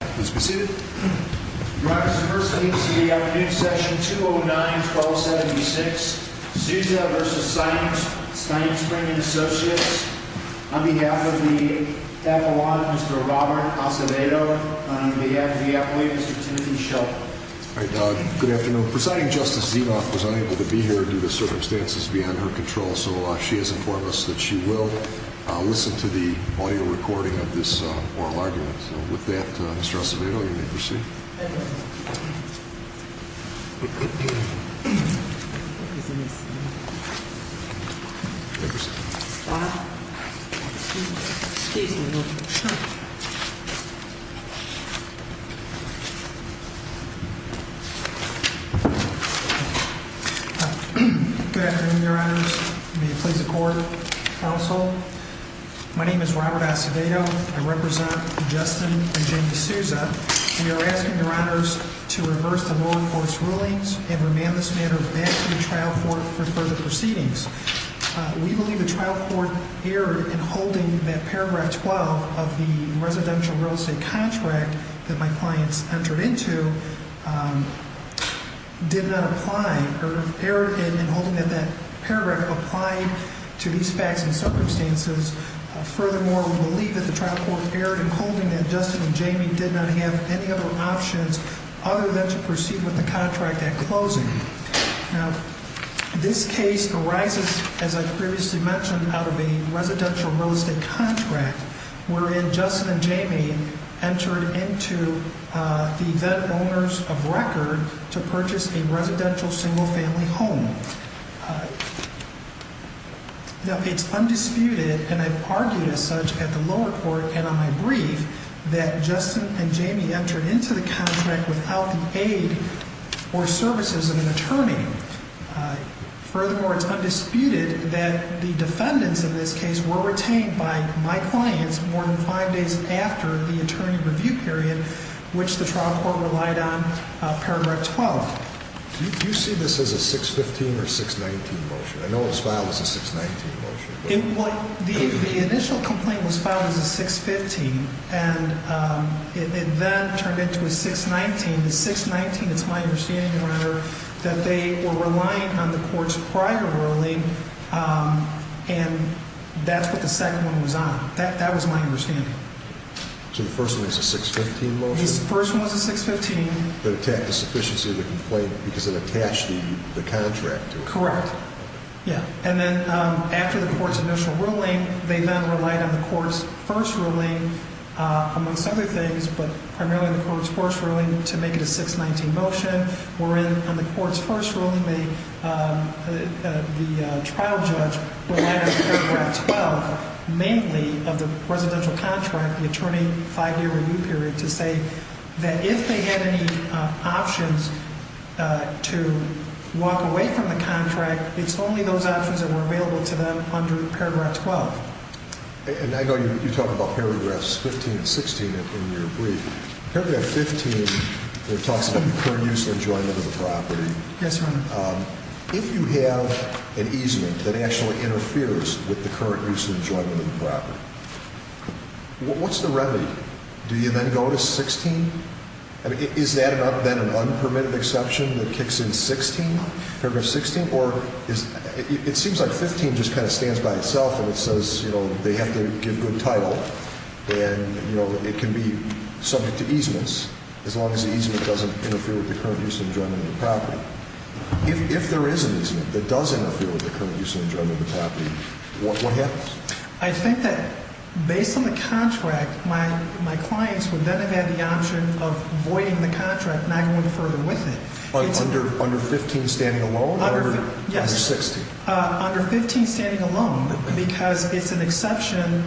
On behalf of the Apollo, Mr. Robert Acevedo. On behalf of the Apollo, Mr. Timothy Shelton. Good afternoon. Presiding Justice Zinov was unable to be here due to circumstances beyond her control, so she has informed us that she will listen to the audio recording of this oral argument. So with that, Mr. Acevedo, you may proceed. Good afternoon, Your Honors. May it please the Court, Counsel. My name is Robert Acevedo. I represent Justin and Jamie Souza. We are asking Your Honors to reverse the law enforcement rulings and remand this matter back to the trial court for further proceedings. We believe the trial court erred in holding that Paragraph 12 of the residential real estate contract that my clients entered into did not apply, erred in holding that that paragraph applied to these facts and circumstances. Furthermore, we believe that the trial court erred in holding that Justin and Jamie did not have any other options other than to proceed with the contract at closing. Now, this case arises, as I previously mentioned, out of a residential real estate contract wherein Justin and Jamie entered into the event owners of record to purchase a residential single family home. Now, it's undisputed, and I've argued as such at the lower court and on my brief, that Justin and Jamie entered into the contract without the aid or services of an attorney. Furthermore, it's undisputed that the defendants in this case were retained by my clients more than five days after the attorney review period, which the trial court relied on Paragraph 12. Do you see this as a 615 or 619 motion? I know it was filed as a 619 motion. The initial complaint was filed as a 615, and it then turned into a 619. The 619, it's my understanding, Your Honor, that they were relying on the courts prior ruling, and that's what the second one was on. That was my understanding. So the first one was a 615 motion? The first one was a 615. That attacked the sufficiency of the complaint because it attached the contract to it. Correct. Yeah. And then after the court's initial ruling, they then relied on the court's first ruling, amongst other things, but primarily the court's first ruling to make it a 619 motion, wherein on the court's first ruling the trial judge relied on Paragraph 12 mainly of the residential contract, the attorney five-year review period, to say that if they had any options to walk away from the contract, it's only those options that were available to them under Paragraph 12. And I know you talk about Paragraphs 15 and 16 in your brief. Paragraph 15 talks about the current use and enjoyment of the property. Yes, Your Honor. If you have an easement that actually interferes with the current use and enjoyment of the property, what's the remedy? Do you then go to 16? I mean, is that then an unpermitted exception that kicks in 16, Paragraph 16? It seems like 15 just kind of stands by itself and it says, you know, they have to give good title. And, you know, it can be subject to easements as long as the easement doesn't interfere with the current use and enjoyment of the property. If there is an easement that does interfere with the current use and enjoyment of the property, what happens? I think that based on the contract, my clients would then have had the option of voiding the contract and not going further with it. Under 15 standing alone? Yes. Under 16? Under 15 standing alone because it's an exception.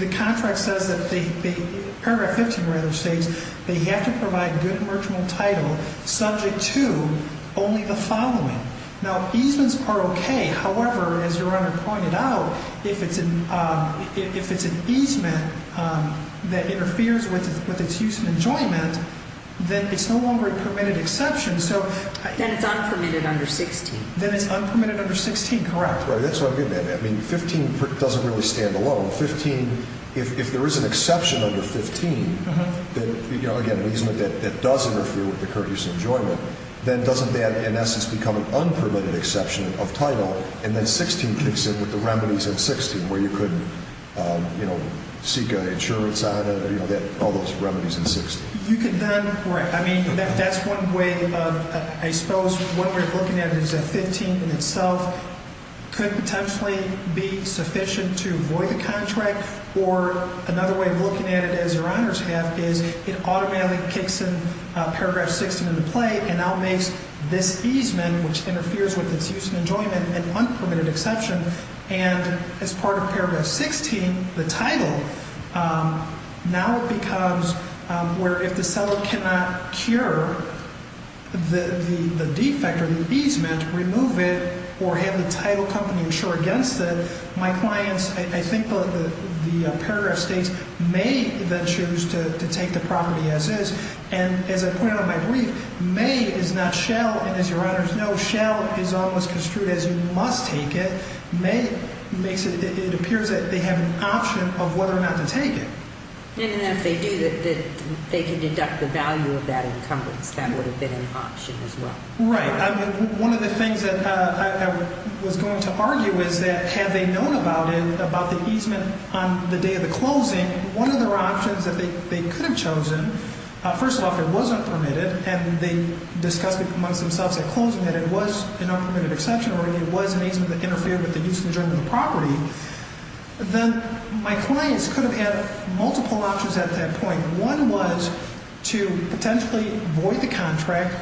The contract says that the Paragraph 15 rather states they have to provide good marginal title subject to only the following. Now, easements are okay. However, as Your Honor pointed out, if it's an easement that interferes with its use and enjoyment, then it's no longer a permitted exception. Then it's unpermitted under 16. Then it's unpermitted under 16, correct. That's what I'm getting at. I mean, 15 doesn't really stand alone. 15, if there is an exception under 15, then, you know, again, an easement that does interfere with the current use and enjoyment, then doesn't that in essence become an unpermitted exception of title? And then 16 kicks in with the remedies in 16 where you could, you know, seek insurance on it, you know, all those remedies in 16. You could then, I mean, that's one way of, I suppose, one way of looking at it is that 15 in itself could potentially be sufficient to avoid the contract. Or another way of looking at it, as Your Honors have, is it automatically kicks in Paragraph 16 into play and now makes this easement, which interferes with its use and enjoyment, an unpermitted exception. And as part of Paragraph 16, the title, now it becomes where if the seller cannot cure the defect or the easement, remove it, or have the title company insure against it, my clients, I think the paragraph states, may then choose to take the property as is. And as I pointed out in my brief, may is not shall. And as Your Honors know, shall is almost construed as you must take it. May makes it, it appears that they have an option of whether or not to take it. And if they do, they can deduct the value of that encumbrance. That would have been an option as well. Right. One of the things that I was going to argue is that had they known about it, about the easement on the day of the closing, and one of their options that they could have chosen, first of all, if it wasn't permitted, and they discussed it amongst themselves at closing that it was an unpermitted exception or it was an easement that interfered with the use and enjoyment of the property, then my clients could have had multiple options at that point. One was to potentially void the contract.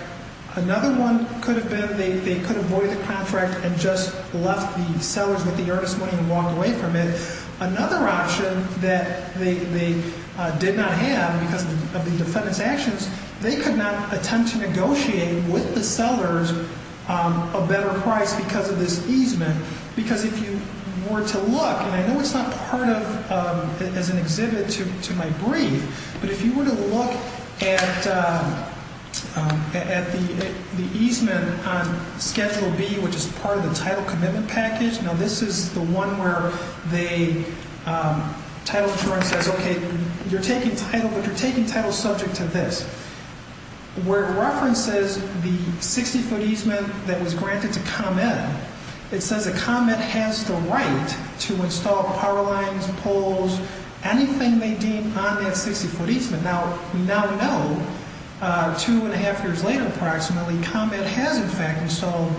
Another one could have been they could avoid the contract and just left the sellers with the earnest money and walked away from it. Another option that they did not have because of the defendant's actions, they could not attempt to negotiate with the sellers a better price because of this easement. Because if you were to look, and I know it's not part of, as an exhibit to my brief, but if you were to look at the easement on Schedule B, which is part of the title commitment package, now this is the one where the title insurance says, okay, you're taking title, but you're taking title subject to this. Where it references the 60-foot easement that was granted to ComEd, it says that ComEd has the right to install power lines, poles, anything they deem on that 60-foot easement. Now, we now know, two and a half years later approximately, ComEd has, in fact, installed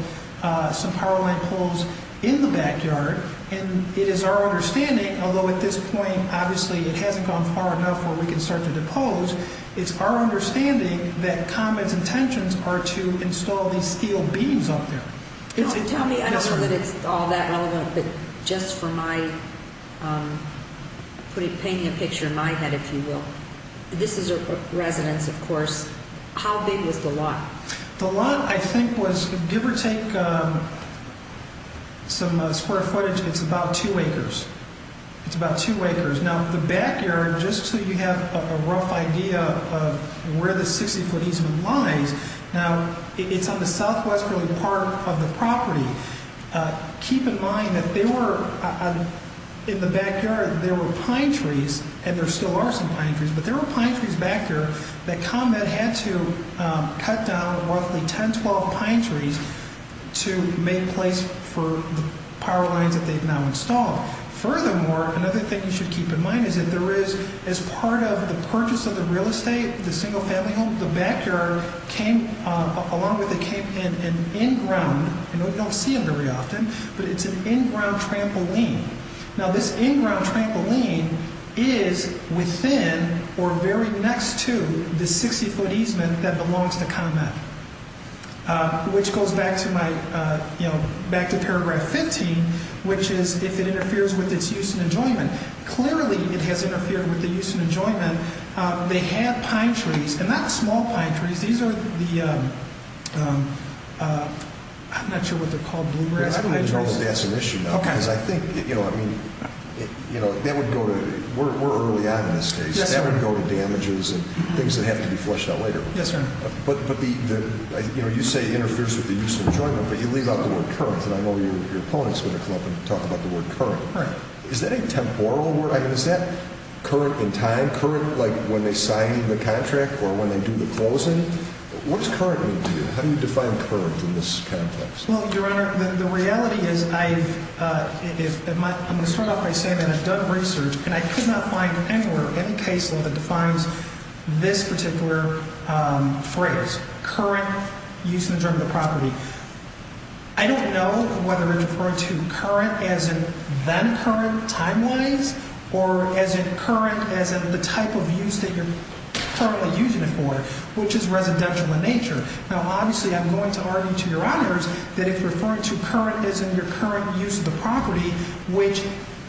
some power line poles in the backyard. And it is our understanding, although at this point, obviously, it hasn't gone far enough where we can start to depose, it's our understanding that ComEd's intentions are to install these steel beams up there. Tell me, I don't know that it's all that relevant, but just for my, painting a picture in my head, if you will, this is a residence, of course, how big was the lot? The lot, I think, was, give or take some square footage, it's about two acres. It's about two acres. Now, the backyard, just so you have a rough idea of where the 60-foot easement lies, now, it's on the southwesterly part of the property. Keep in mind that they were, in the backyard, there were pine trees, and there still are some pine trees, but there were pine trees back here that ComEd had to cut down roughly 10, 12 pine trees to make place for the power lines that they've now installed. Furthermore, another thing you should keep in mind is that there is, as part of the purchase of the real estate, the single-family home, the backyard came, along with it, came in an in-ground, and we don't see it very often, but it's an in-ground trampoline. Now, this in-ground trampoline is within, or very next to, the 60-foot easement that belongs to ComEd, which goes back to paragraph 15, which is, if it interferes with its use and enjoyment. Clearly, it has interfered with the use and enjoyment. They have pine trees, and not small pine trees. These are the, I'm not sure what they're called, bluegrass pine trees. I think that's an issue now, because I think, you know, that would go to, we're early on in this case, that would go to damages and things that have to be flushed out later. Yes, sir. But, you know, you say it interferes with the use and enjoyment, but you leave out the word current, and I know your opponent's going to come up and talk about the word current. Right. Is that a temporal word? I mean, is that current in time, current like when they sign the contract or when they do the closing? What does current mean to you? How do you define current in this context? Well, Your Honor, the reality is I've, I'm going to start off by saying that I've done research, and I could not find anywhere, any case law that defines this particular phrase, current use and enjoyment of property. I don't know whether it's referring to current as in then current timelines, or as in current as in the type of use that you're currently using it for, which is residential in nature. Now, obviously, I'm going to argue to Your Honors that if you're referring to current as in your current use of the property, which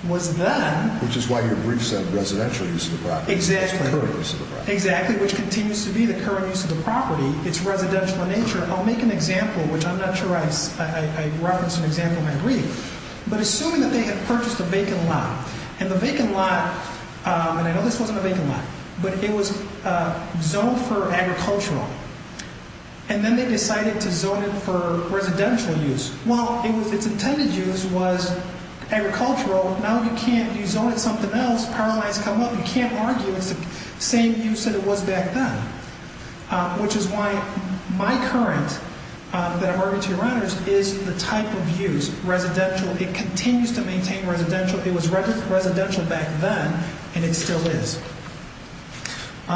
was then. Which is why your brief said residential use of the property. Exactly. It's current use of the property. Exactly, which continues to be the current use of the property. It's residential in nature. I'll make an example, which I'm not sure I, I referenced an example in my brief. But assuming that they had purchased a vacant lot, and the vacant lot, and I know this wasn't a vacant lot, but it was zoned for agricultural, and then they decided to zone it for residential use. Well, it was, it's intended use was agricultural. Now you can't, you zone it something else, power lines come up, you can't argue it's the same use that it was back then. Which is why my current, that I'm arguing to Your Honors, is the type of use, residential. It continues to maintain residential. It was residential back then, and it still is. Now,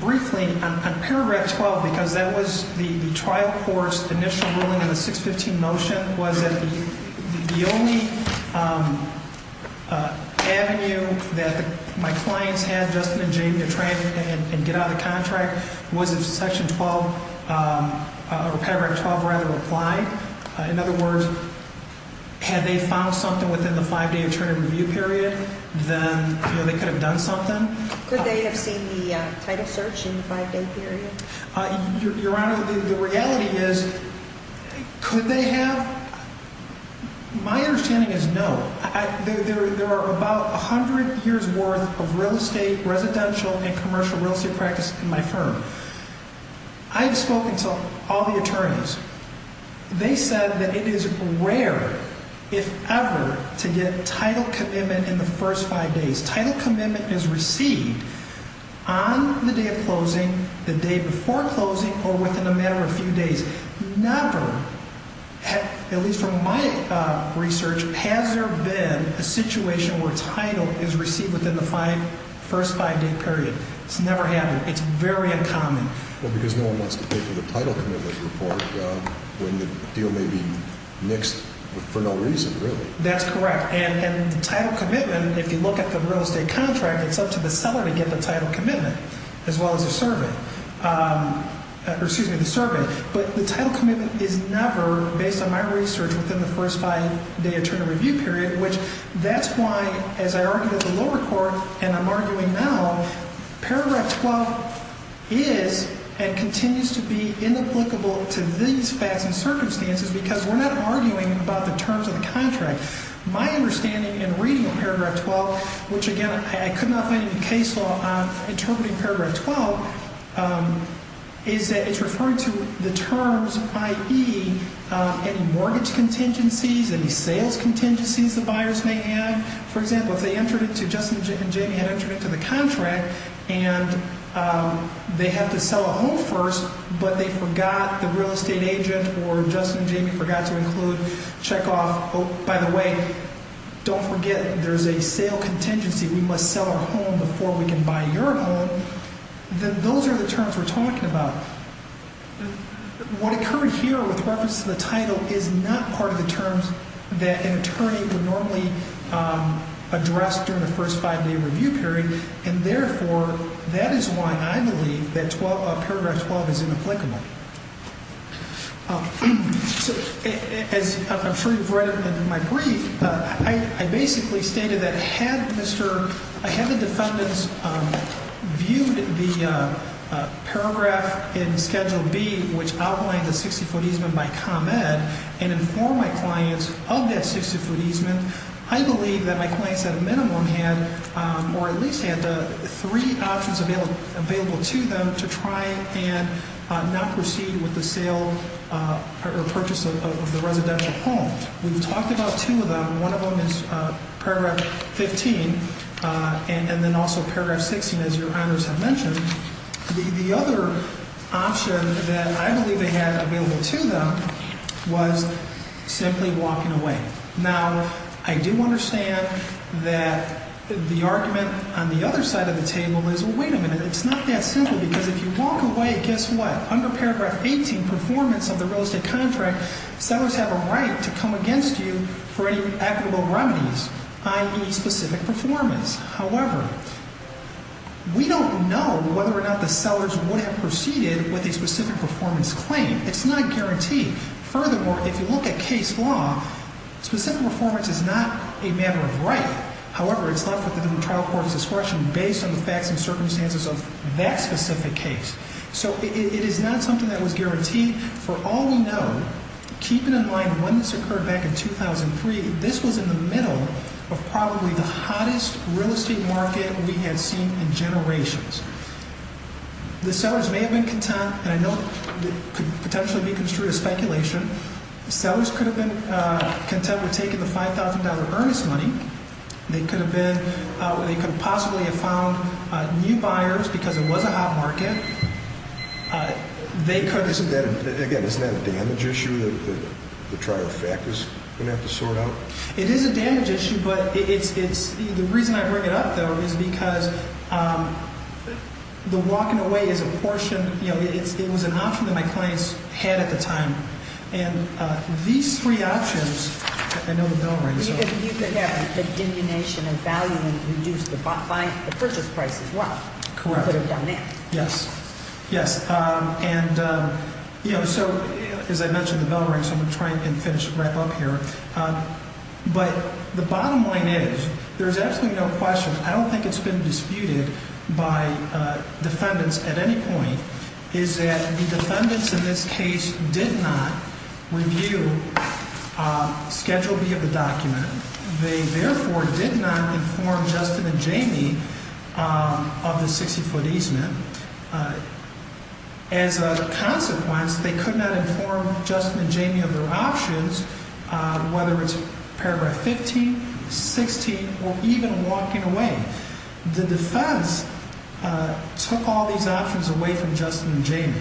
briefly, on paragraph 12, because that was the trial court's initial ruling in the 615 motion, was that the only avenue that my clients had Justin and Jamie to try and get out of the contract was if section 12, or paragraph 12 rather, applied. In other words, had they found something within the five-day attorney review period, then they could have done something. Could they have seen the title search in the five-day period? Your Honor, the reality is, could they have? My understanding is no. There are about 100 years' worth of real estate, residential, and commercial real estate practice in my firm. I've spoken to all the attorneys. They said that it is rare, if ever, to get title commitment in the first five days. Title commitment is received on the day of closing, the day before closing, or within a matter of a few days. Never, at least from my research, has there been a situation where title is received within the first five-day period. It's never happened. It's very uncommon. Well, because no one wants to pay for the title commitment report when the deal may be nixed for no reason, really. That's correct. And title commitment, if you look at the real estate contract, it's up to the seller to get the title commitment, as well as the survey. Excuse me, the survey. But the title commitment is never, based on my research, within the first five-day attorney review period, which that's why, as I argued at the lower court and I'm arguing now, Paragraph 12 is and continues to be inapplicable to these facts and circumstances because we're not arguing about the terms of the contract. My understanding in reading Paragraph 12, which, again, I could not find any case law on interpreting Paragraph 12, is that it's referring to the terms, i.e., any mortgage contingencies, any sales contingencies the buyers may have. For example, if they entered it to, Justin and Jamie had entered it to the contract and they had to sell a home first, but they forgot, the real estate agent or Justin and Jamie forgot to include check-off, oh, by the way, don't forget there's a sale contingency. We must sell our home before we can buy your home. Then those are the terms we're talking about. What occurred here with reference to the title is not part of the terms that an attorney would normally address during the first five-day review period, and, therefore, that is why I believe that Paragraph 12 is inapplicable. As I'm sure you've read in my brief, I basically stated that had the defendants viewed the paragraph in Schedule B, which outlined the 60-foot easement by ComEd, and informed my clients of that 60-foot easement, I believe that my clients at a minimum had or at least had three options available to them to try and not proceed with the sale or purchase of the residential home. We've talked about two of them. One of them is Paragraph 15 and then also Paragraph 16, as your honors have mentioned. The other option that I believe they had available to them was simply walking away. Now, I do understand that the argument on the other side of the table is, well, wait a minute, it's not that simple, because if you walk away, guess what? Under Paragraph 18, performance of the real estate contract, sellers have a right to come against you for any equitable remedies, i.e., specific performance. However, we don't know whether or not the sellers would have proceeded with a specific performance claim. It's not guaranteed. Furthermore, if you look at case law, specific performance is not a matter of right. However, it's left with the trial court's discretion based on the facts and circumstances of that specific case. So it is not something that was guaranteed. For all we know, keeping in mind when this occurred back in 2003, this was in the middle of probably the hottest real estate market we had seen in generations. The sellers may have been content, and I know it could potentially be construed as speculation. Sellers could have been content with taking the $5,000 earnest money. They could possibly have found new buyers because it was a hot market. Again, isn't that a damage issue that the trial factors are going to have to sort out? It is a damage issue, but the reason I bring it up, though, is because the walking away is a portion. It was an option that my clients had at the time. And these three options, I know the bell rings. You could have the diminution of value and reduce the purchase price as well. Correct. Put it down there. Yes. Yes. And, you know, so as I mentioned, the bell rings, so I'm going to try and finish right up here. But the bottom line is there's absolutely no question. I don't think it's been disputed by defendants at any point is that the defendants in this case did not review Schedule B of the document. They therefore did not inform Justin and Jamie of the 60-foot easement. As a consequence, they could not inform Justin and Jamie of their options, whether it's paragraph 15, 16, or even walking away. The defense took all these options away from Justin and Jamie.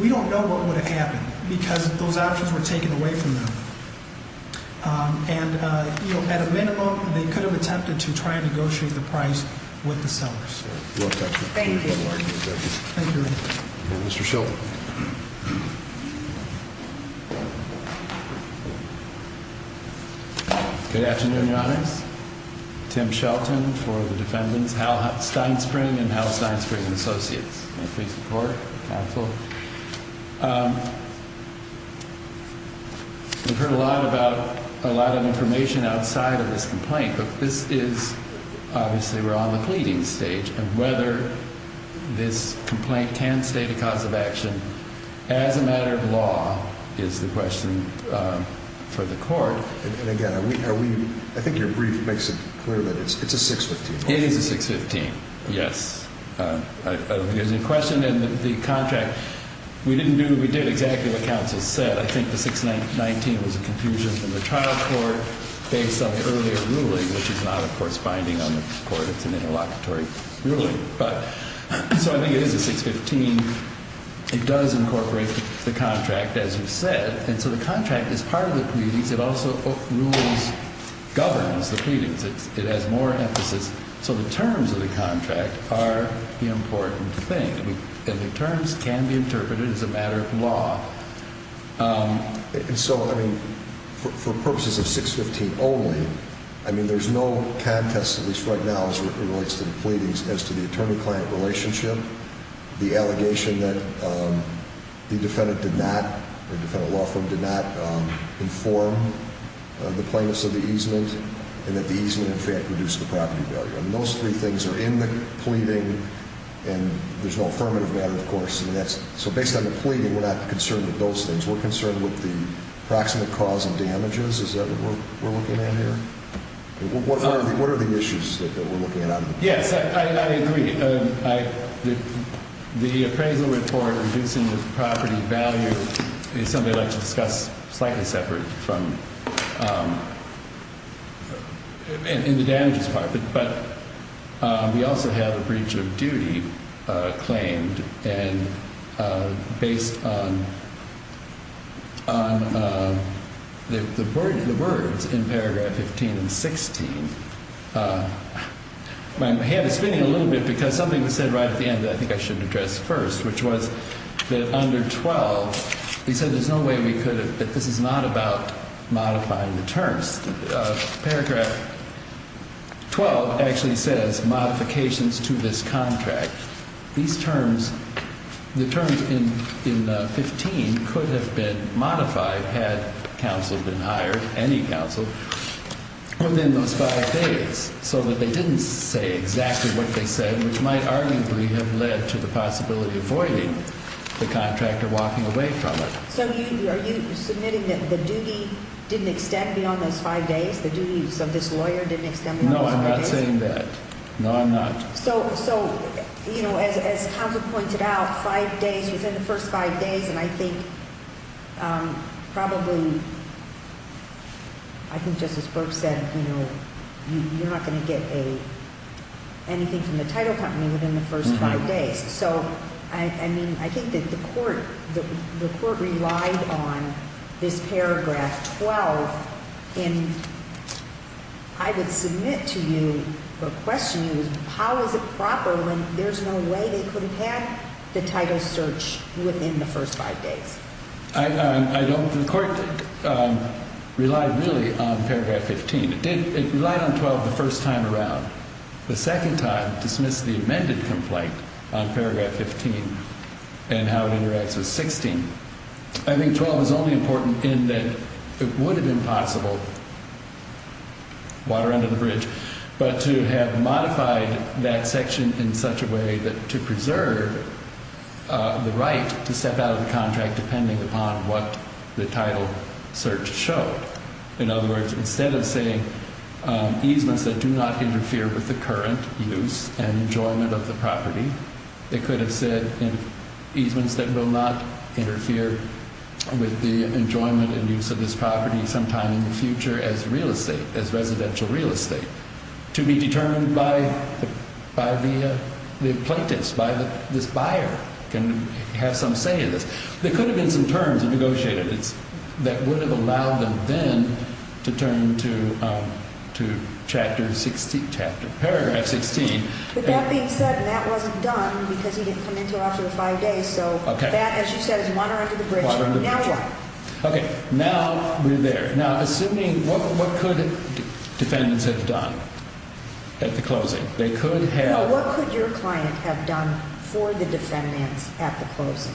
We don't know what would have happened because those options were taken away from them. And, you know, at a minimum, they could have attempted to try and negotiate the price with the sellers. Thank you. Thank you. Mr. Shelton. Good afternoon, Your Honors. Tim Shelton for the defendants, Hal Steinspring and Hal Steinspring and Associates. I face the court, counsel. We've heard a lot about a lot of information outside of this complaint, but this is obviously we're on the pleading stage. And whether this complaint can stay the cause of action as a matter of law is the question for the court. And again, I think your brief makes it clear that it's a 615. It is a 615, yes. There's a question in the contract. We didn't do what we did, exactly what counsel said. I think the 619 was a confusion in the trial court based on the earlier ruling, which is not, of course, binding on the court. It's an interlocutory ruling. But so I think it is a 615. It does incorporate the contract, as you said. And so the contract is part of the pleadings. It also rules, governs the pleadings. It has more emphasis. So the terms of the contract are the important thing. And the terms can be interpreted as a matter of law. And so, I mean, for purposes of 615 only, I mean, there's no contest, at least right now as it relates to the pleadings, as to the attorney-client relationship. The allegation that the defendant did not, the defendant law firm did not inform the plaintiffs of the easement. And that the easement, in fact, reduced the property value. And those three things are in the pleading. And there's no affirmative matter, of course. So based on the pleading, we're not concerned with those things. We're concerned with the proximate cause of damages. Is that what we're looking at here? What are the issues that we're looking at? Yes, I agree. The appraisal report reducing the property value is something I'd like to discuss slightly separate from the damages part. But we also have a breach of duty claimed. And based on the words in paragraph 15 and 16. My hand is spinning a little bit because something was said right at the end that I think I should address first. Which was that under 12, he said there's no way we could have, this is not about modifying the terms. Paragraph 12 actually says modifications to this contract. These terms, the terms in 15 could have been modified had counsel been hired, any counsel, within those five days. So that they didn't say exactly what they said. Which might arguably have led to the possibility of voiding the contractor walking away from it. So are you submitting that the duty didn't extend beyond those five days? The duties of this lawyer didn't extend beyond those five days? No, I'm not saying that. No, I'm not. So as counsel pointed out, five days, within the first five days. And I think probably, I think Justice Brooks said you're not going to get anything from the title company within the first five days. So I mean, I think that the court relied on this paragraph 12. And I would submit to you or question you, how is it proper when there's no way they could have had the title search within the first five days? I don't think the court relied really on paragraph 15. It did, it relied on 12 the first time around. The second time dismissed the amended complaint on paragraph 15 and how it interacts with 16. I think 12 is only important in that it would have been possible, water under the bridge, but to have modified that section in such a way that to preserve the right to step out of the contract depending upon what the title search showed. In other words, instead of saying easements that do not interfere with the current use and enjoyment of the property, they could have said easements that will not interfere with the enjoyment and use of this property sometime in the future as real estate, as residential real estate to be determined by the plaintiffs, by this buyer can have some say in this. There could have been some terms negotiated that would have allowed them then to turn to paragraph 16. But that being said, that wasn't done because he didn't come into it after the five days. So that, as you said, is water under the bridge. Water under the bridge. Now what? Okay, now we're there. Now, assuming what could defendants have done at the closing? They could have. No, what could your client have done for the defendants at the closing?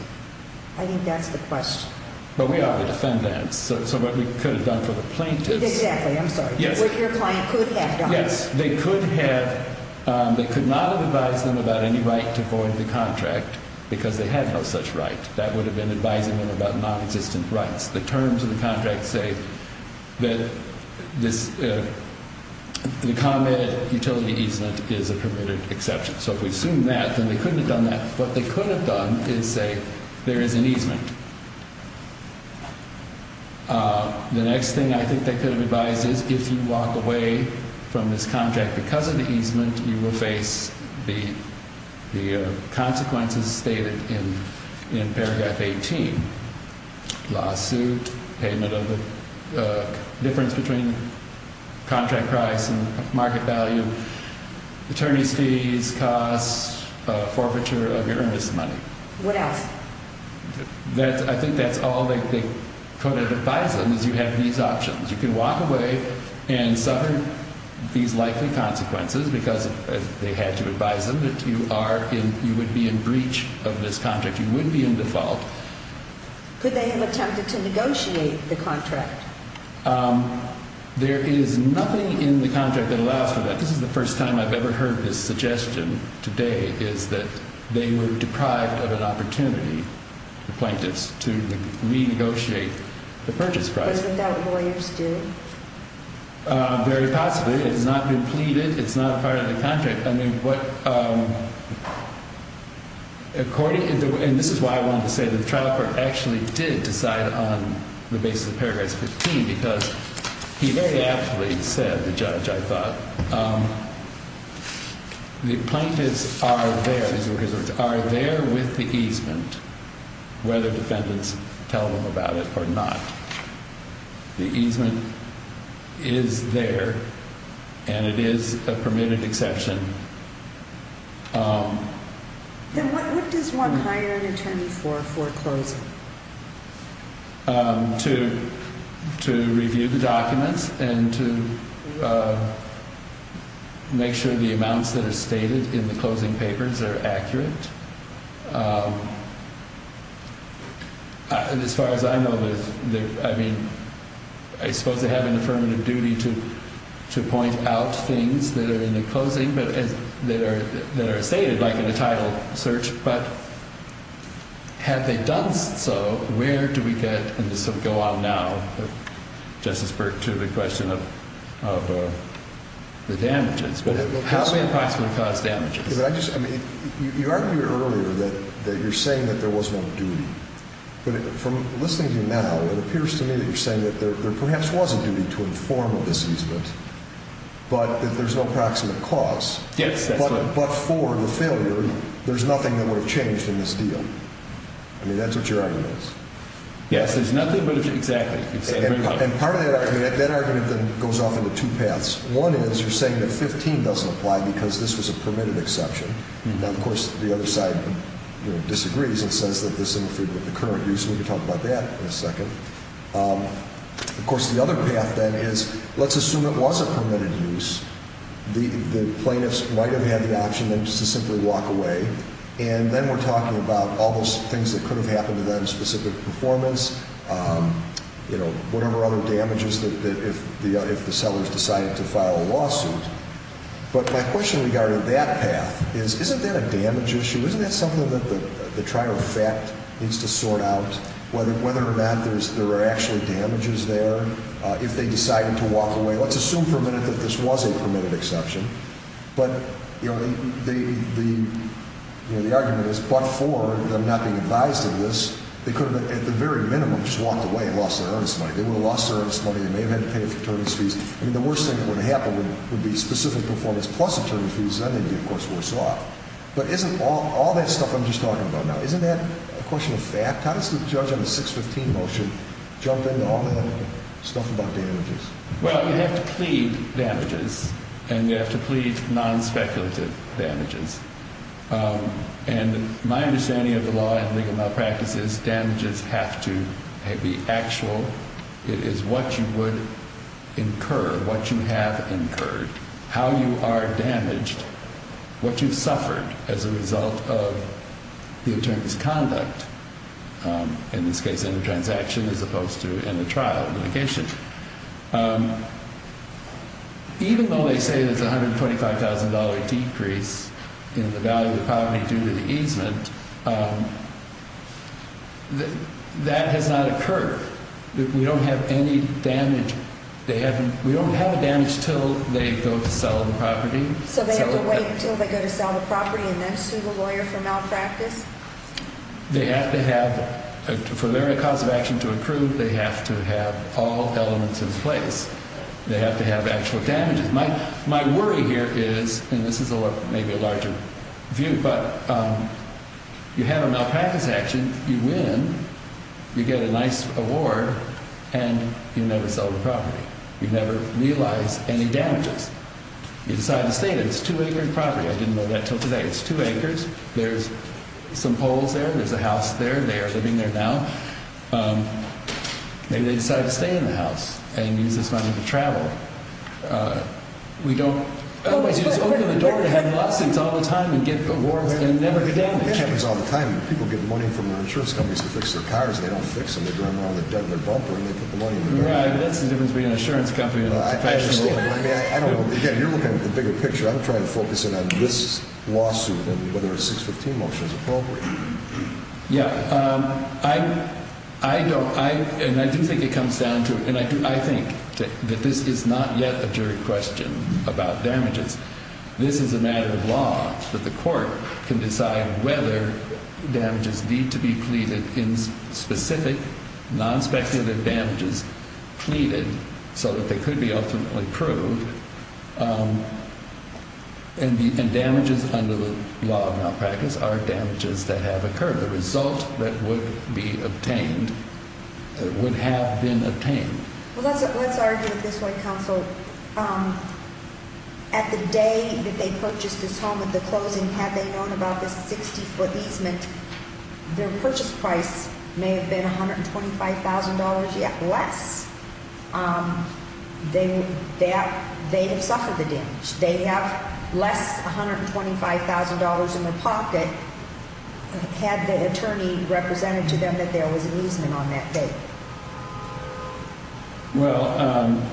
I think that's the question. But we are the defendants, so what we could have done for the plaintiffs. Exactly, I'm sorry. Yes. What your client could have done. Yes, they could have. They could not have advised them about any right to go into the contract because they had no such right. That would have been advising them about nonexistent rights. The terms of the contract say that the common utility easement is a permitted exception. So if we assume that, then they couldn't have done that. What they could have done is say there is an easement. The next thing I think they could have advised is if you walk away from this contract because of the easement, you will face the consequences stated in paragraph 18. Lawsuit, payment of the difference between contract price and market value, attorney's fees, costs, forfeiture of your earnest money. What else? I think that's all they could have advised them is you have these options. You can walk away and suffer these likely consequences because they had to advise them that you would be in breach of this contract. You would be in default. Could they have attempted to negotiate the contract? There is nothing in the contract that allows for that. I think this is the first time I've ever heard this suggestion today is that they were deprived of an opportunity, the plaintiffs, to renegotiate the purchase price. Was it that lawyers did? Very possibly. It has not been pleaded. It's not a part of the contract. And this is why I wanted to say the trial court actually did decide on the basis of paragraph 15 because he very aptly said, the judge, I thought, the plaintiffs are there with the easement, whether defendants tell them about it or not. The easement is there and it is a permitted exception. What does one hire an attorney for foreclosing? To review the documents and to make sure the amounts that are stated in the closing papers are accurate. As far as I know, I mean, I suppose they have an affirmative duty to point out things that are in the closing that are stated, like in the title search. But had they done so, where do we get, and this will go on now, Justice Burke, to the question of the damages. How may it possibly cause damages? You argued earlier that you're saying that there was no duty. But from listening to you now, it appears to me that you're saying that there perhaps was a duty to inform of this easement, but that there's no proximate cause. Yes, that's right. But for the failure, there's nothing that would have changed in this deal. I mean, that's what your argument is. Yes, there's nothing, but it's exactly. And part of that argument, that argument then goes off into two paths. One is you're saying that 15 doesn't apply because this was a permitted exception. Now, of course, the other side disagrees and says that this interfered with the current use, and we can talk about that in a second. Of course, the other path then is let's assume it was a permitted use. The plaintiffs might have had the option then just to simply walk away. And then we're talking about all those things that could have happened to them, specific performance, whatever other damages, if the sellers decided to file a lawsuit. But my question regarding that path is isn't that a damage issue? Isn't that something that the trial of fact needs to sort out, whether or not there are actually damages there? If they decided to walk away, let's assume for a minute that this was a permitted exception. But, you know, the argument is but for them not being advised of this, they could have at the very minimum just walked away and lost their earnest money. They would have lost their earnest money. They may have had to pay for attorney's fees. I mean, the worst thing that would have happened would be specific performance plus attorney's fees. Then they'd be, of course, worse off. But isn't all that stuff I'm just talking about now, isn't that a question of fact? How does the judge on the 615 motion jump into all that stuff about damages? Well, you have to plead damages and you have to plead non-speculative damages. And my understanding of the law and legal malpractice is damages have to be actual. It is what you would incur, what you have incurred, how you are damaged, what you've suffered as a result of the attorney's conduct. In this case, in the transaction as opposed to in the trial litigation. Even though they say there's a $125,000 decrease in the value of poverty due to the easement, that has not occurred. We don't have any damage. We don't have a damage until they go to sell the property. So they have to wait until they go to sell the property and then sue the lawyer for malpractice? They have to have, for their cause of action to improve, they have to have all elements in place. They have to have actual damages. My worry here is, and this is maybe a larger view, but you have a malpractice action, you win, you get a nice award, and you never sell the property. You never realize any damages. You decide to stay and it's a two-acre property. I didn't know that until today. It's two acres. There's some poles there. There's a house there. They are living there now. Maybe they decided to stay in the house and use this money to travel. Otherwise, you just open the door and have lawsuits all the time and get awards and never get any damage. It happens all the time. People get money from the insurance companies to fix their cars and they don't fix them. They go in there with a dent in their bumper and they put the money in the door. That's the difference between an insurance company and a professional lawyer. Again, you're looking at the bigger picture. I'm trying to focus in on this lawsuit and whether a 615 motion is appropriate. Yeah. I do think it comes down to, and I think that this is not yet a jury question about damages. This is a matter of law that the court can decide whether damages need to be pleaded in specific, non-speculative damages pleaded so that they could be ultimately proved. And damages under the law of malpractice are damages that have occurred. The result that would be obtained would have been obtained. Well, let's argue it this way, counsel. At the day that they purchased this home at the closing, had they known about this 60-foot easement, their purchase price may have been $125,000 less. They have suffered the damage. They have less $125,000 in their pocket. Had the attorney represented to them that there was an easement on that day? Well,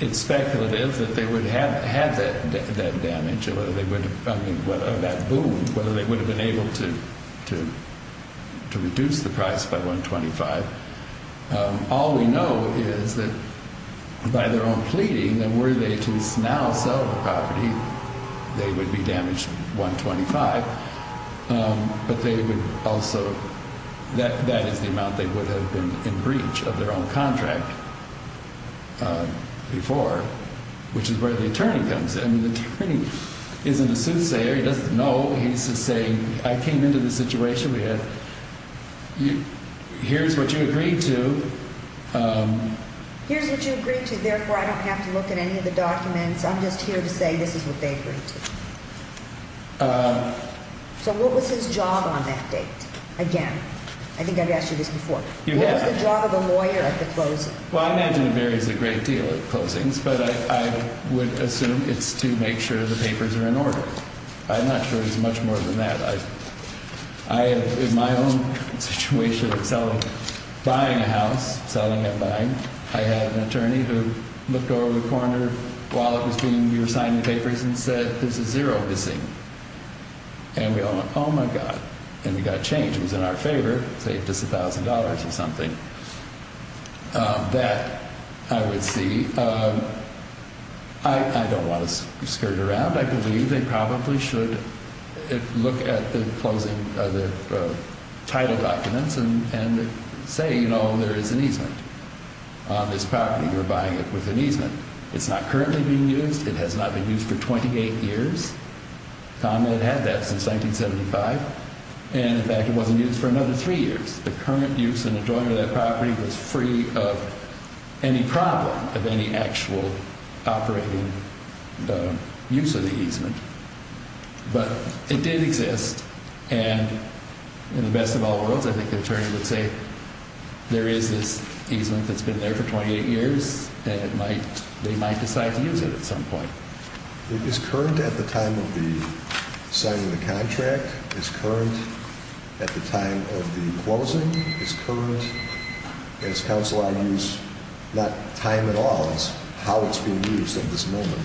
it's speculative that they would have had that damage or that boom, whether they would have been able to reduce the price by $125,000. All we know is that by their own pleading that were they to now sell the property, they would be damaged $125,000. But they would also – that is the amount they would have been in breach of their own contract before, which is where the attorney comes in. I mean, the attorney isn't a soothsayer. He doesn't know. He's just saying, I came into this situation. Here's what you agreed to. Here's what you agreed to. Therefore, I don't have to look at any of the documents. I'm just here to say this is what they agreed to. So what was his job on that date? Again, I think I've asked you this before. What was the job of a lawyer at the closing? Well, I imagine it varies a great deal at closings, but I would assume it's to make sure the papers are in order. I'm not sure it's much more than that. In my own situation of selling – buying a house, selling and buying, I had an attorney who looked over the corner while it was being – we were signing papers and said, there's a zero missing. And we all went, oh, my God. And we got changed. It was in our favor. It saved us $1,000 or something. That I would see. I don't want to skirt around. I believe they probably should look at the closing – the title documents and say, you know, there is an easement on this property. You're buying it with an easement. It's not currently being used. It has not been used for 28 years. Conrad had that since 1975. And, in fact, it wasn't used for another three years. The current use and enjoyment of that property was free of any problem of any actual operating use of the easement. But it did exist. And in the best of all worlds, I think the attorney would say, there is this easement that's been there for 28 years, and it might – they might decide to use it at some point. Is current at the time of the signing of the contract? Is current at the time of the closing? Is current, as counsel argues, not time at all. It's how it's being used at this moment.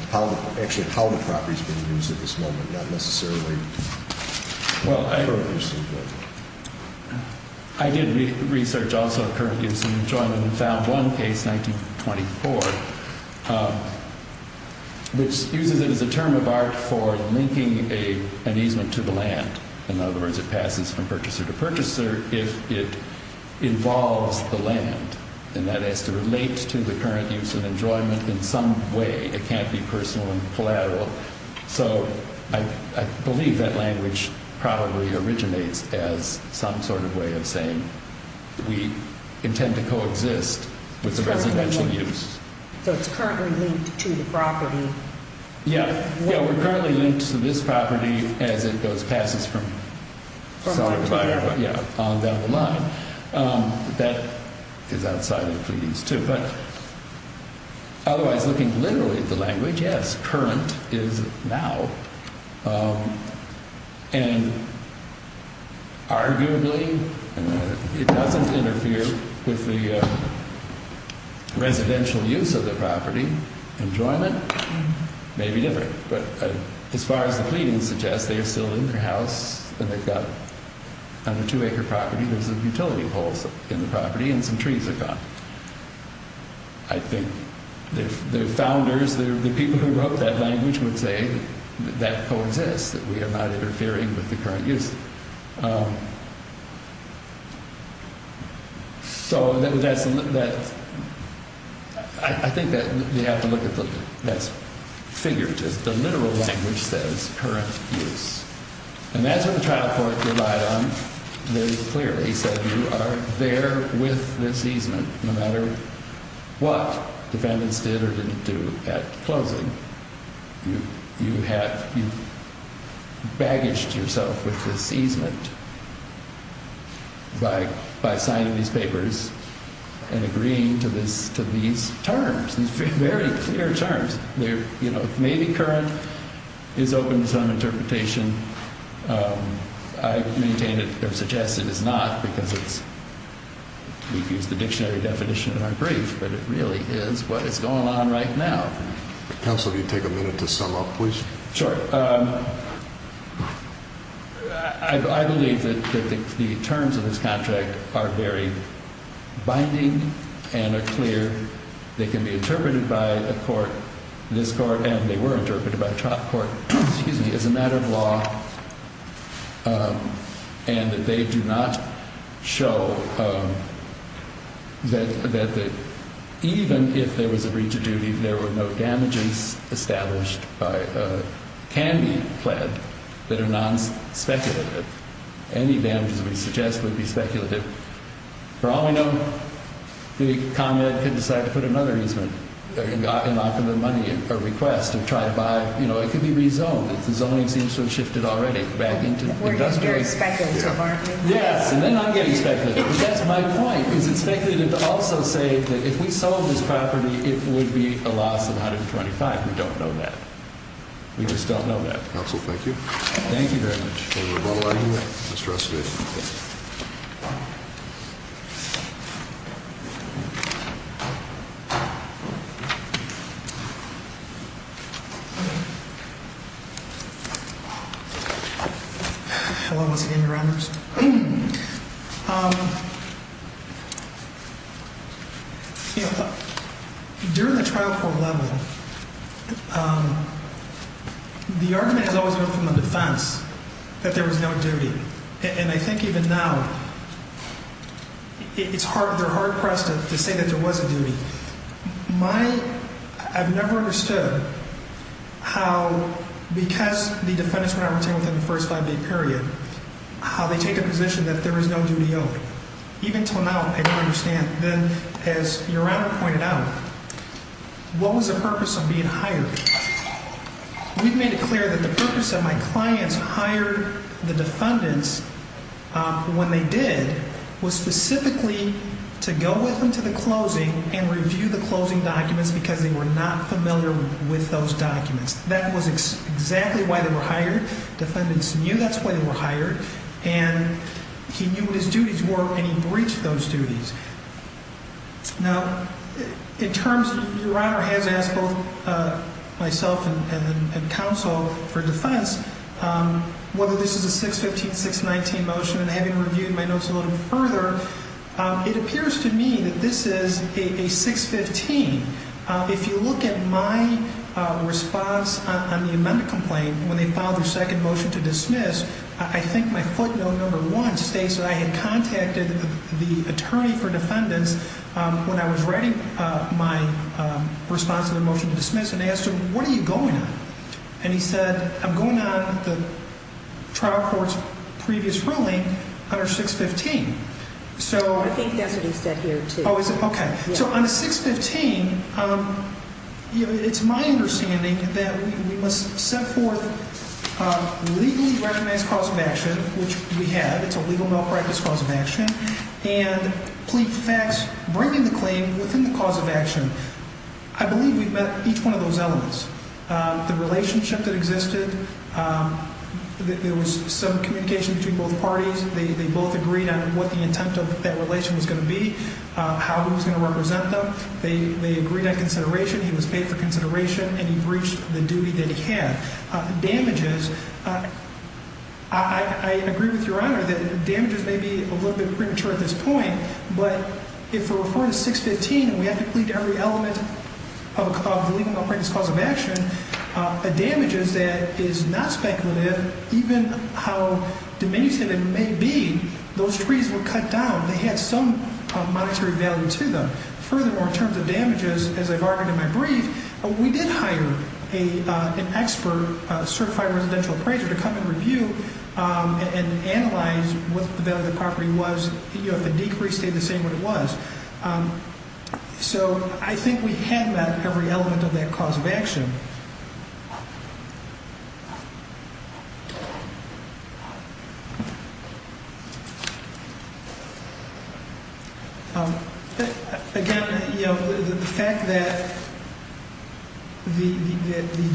Actually, how the property is being used at this moment, not necessarily the current use. I did research also current use and enjoyment and found one case, 1924, which uses it as a term of art for linking an easement to the land. In other words, it passes from purchaser to purchaser if it involves the land. And that has to relate to the current use and enjoyment in some way. So I believe that language probably originates as some sort of way of saying we intend to coexist with the residential use. So it's currently linked to the property? Yeah. Yeah, we're currently linked to this property as it goes – passes from – From the purchaser? Yeah, on down the line. That is outside of pleadings, too. Otherwise, looking literally at the language, yes, current is now. And arguably, it doesn't interfere with the residential use of the property. Enjoyment may be different. But as far as the pleadings suggest, they are still in the house and they've got a two-acre property. There's a utility poles in the property and some trees are gone. I think the founders, the people who wrote that language would say that that coexists, that we are not interfering with the current use. So that's – I think that they have to look at the – that's figured. The literal language says current use. And that's what the trial court relied on very clearly. They said you are there with this easement no matter what defendants did or didn't do at closing. You have – you've baggaged yourself with this easement by signing these papers and agreeing to these terms, these very clear terms. Maybe current is open to some interpretation. I maintain it or suggest it is not because it's – we've used the dictionary definition in our brief. But it really is what is going on right now. Counsel, if you'd take a minute to sum up, please. Sure. I believe that the terms of this contract are very binding and are clear. They can be interpreted by a court, this court, and they were interpreted by a trial court, excuse me, as a matter of law. And they do not show that even if there was a breach of duty, there were no damages established by – can be pled that are non-speculative. Any damages we suggest would be speculative. For all we know, the commune could decide to put another easement in lock of the money, a request to try to buy – you know, it could be rezoned. The zoning seems to have shifted already back into – We're getting very speculative, aren't we? Yes, and then I'm getting speculative. But that's my point, because it's speculative to also say that if we sold this property, it would be a loss of $125. We don't know that. We just don't know that. Counsel, thank you. Thank you very much. Mr. Escovedo. Hello once again, Your Honors. During the trial court level, the argument has always been from the defense that there was no duty. And I think even now it's hard – they're hard pressed to say that there was a duty. My – I've never understood how, because the defendants were not retained within the first five-day period, how they take a position that there was no duty owed. Even until now, I don't understand. Then, as Your Honor pointed out, what was the purpose of being hired? We've made it clear that the purpose of my clients hiring the defendants when they did was specifically to go with them to the closing and review the closing documents because they were not familiar with those documents. That was exactly why they were hired. Defendants knew that's why they were hired, and he knew what his duties were, and he breached those duties. Now, in terms – Your Honor has asked both myself and counsel for defense whether this is a 615, 619 motion, and having reviewed my notes a little further, it appears to me that this is a 615. If you look at my response on the amendment complaint when they filed their second motion to dismiss, I think my footnote number one states that I had contacted the attorney for defendants when I was writing my response to their motion to dismiss and asked them, what are you going on? And he said, I'm going on the trial court's previous ruling under 615. I think that's what he said here, too. Oh, is it? Okay. So on the 615, it's my understanding that we must set forth legally recognized cause of action, which we have. It's a legal malpractice cause of action, and plead the facts, bringing the claim within the cause of action. I believe we've met each one of those elements. The relationship that existed, there was some communication between both parties. They both agreed on what the intent of that relation was going to be, how he was going to represent them. They agreed on consideration. He was paid for consideration, and he breached the duty that he had. Damages, I agree with Your Honor that damages may be a little bit premature at this point, but if we're referring to 615 and we have to plead to every element of the legal malpractice cause of action, a damages that is not speculative, even how diminutive it may be, those trees were cut down. They had some monetary value to them. Furthermore, in terms of damages, as I've argued in my brief, we did hire an expert, a certified residential appraiser, to come and review and analyze what the value of the property was. The decrease stayed the same what it was. So I think we have met every element of that cause of action. Again, the fact that the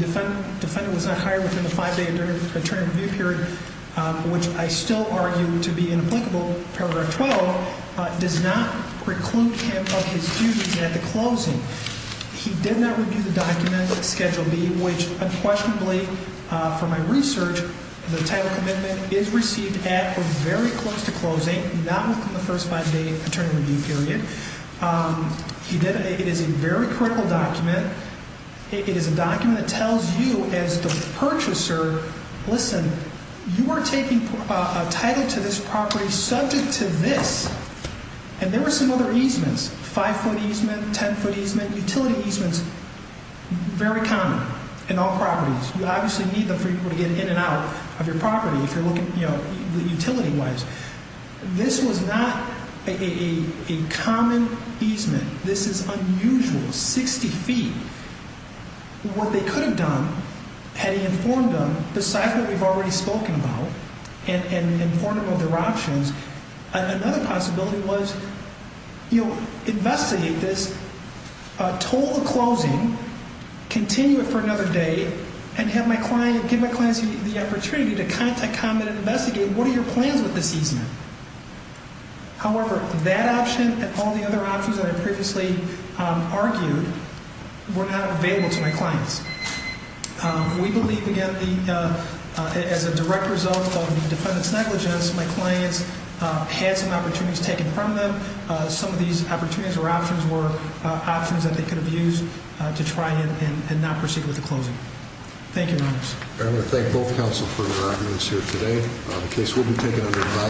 defendant was not hired within the five-day attorney review period, which I still argue to be inapplicable, paragraph 12, does not preclude him of his duties at the closing. He did not review the document, Schedule B, which unquestionably, for my research, the title commitment is received at or very close to closing, not within the first five-day attorney review period. It is a very critical document. It is a document that tells you as the purchaser, listen, you are taking a title to this property subject to this. And there were some other easements, five-foot easement, ten-foot easement, utility easements, very common in all properties. You obviously need them for people to get in and out of your property if you're looking utility-wise. This was not a common easement. This is unusual, 60 feet. What they could have done had he informed them, besides what we've already spoken about and informed them of their options, another possibility was investigate this, total the closing, continue it for another day, and have my client, give my client the opportunity to contact, comment, and investigate what are your plans with this easement. However, that option and all the other options that I previously argued were not available to my clients. We believe, again, as a direct result of defendant's negligence, my clients had some opportunities taken from them. Some of these opportunities or options were options that they could have used to try and not proceed with the closing. Thank you, members. I want to thank both counsel for their arguments here today. The case will be taken under advisory.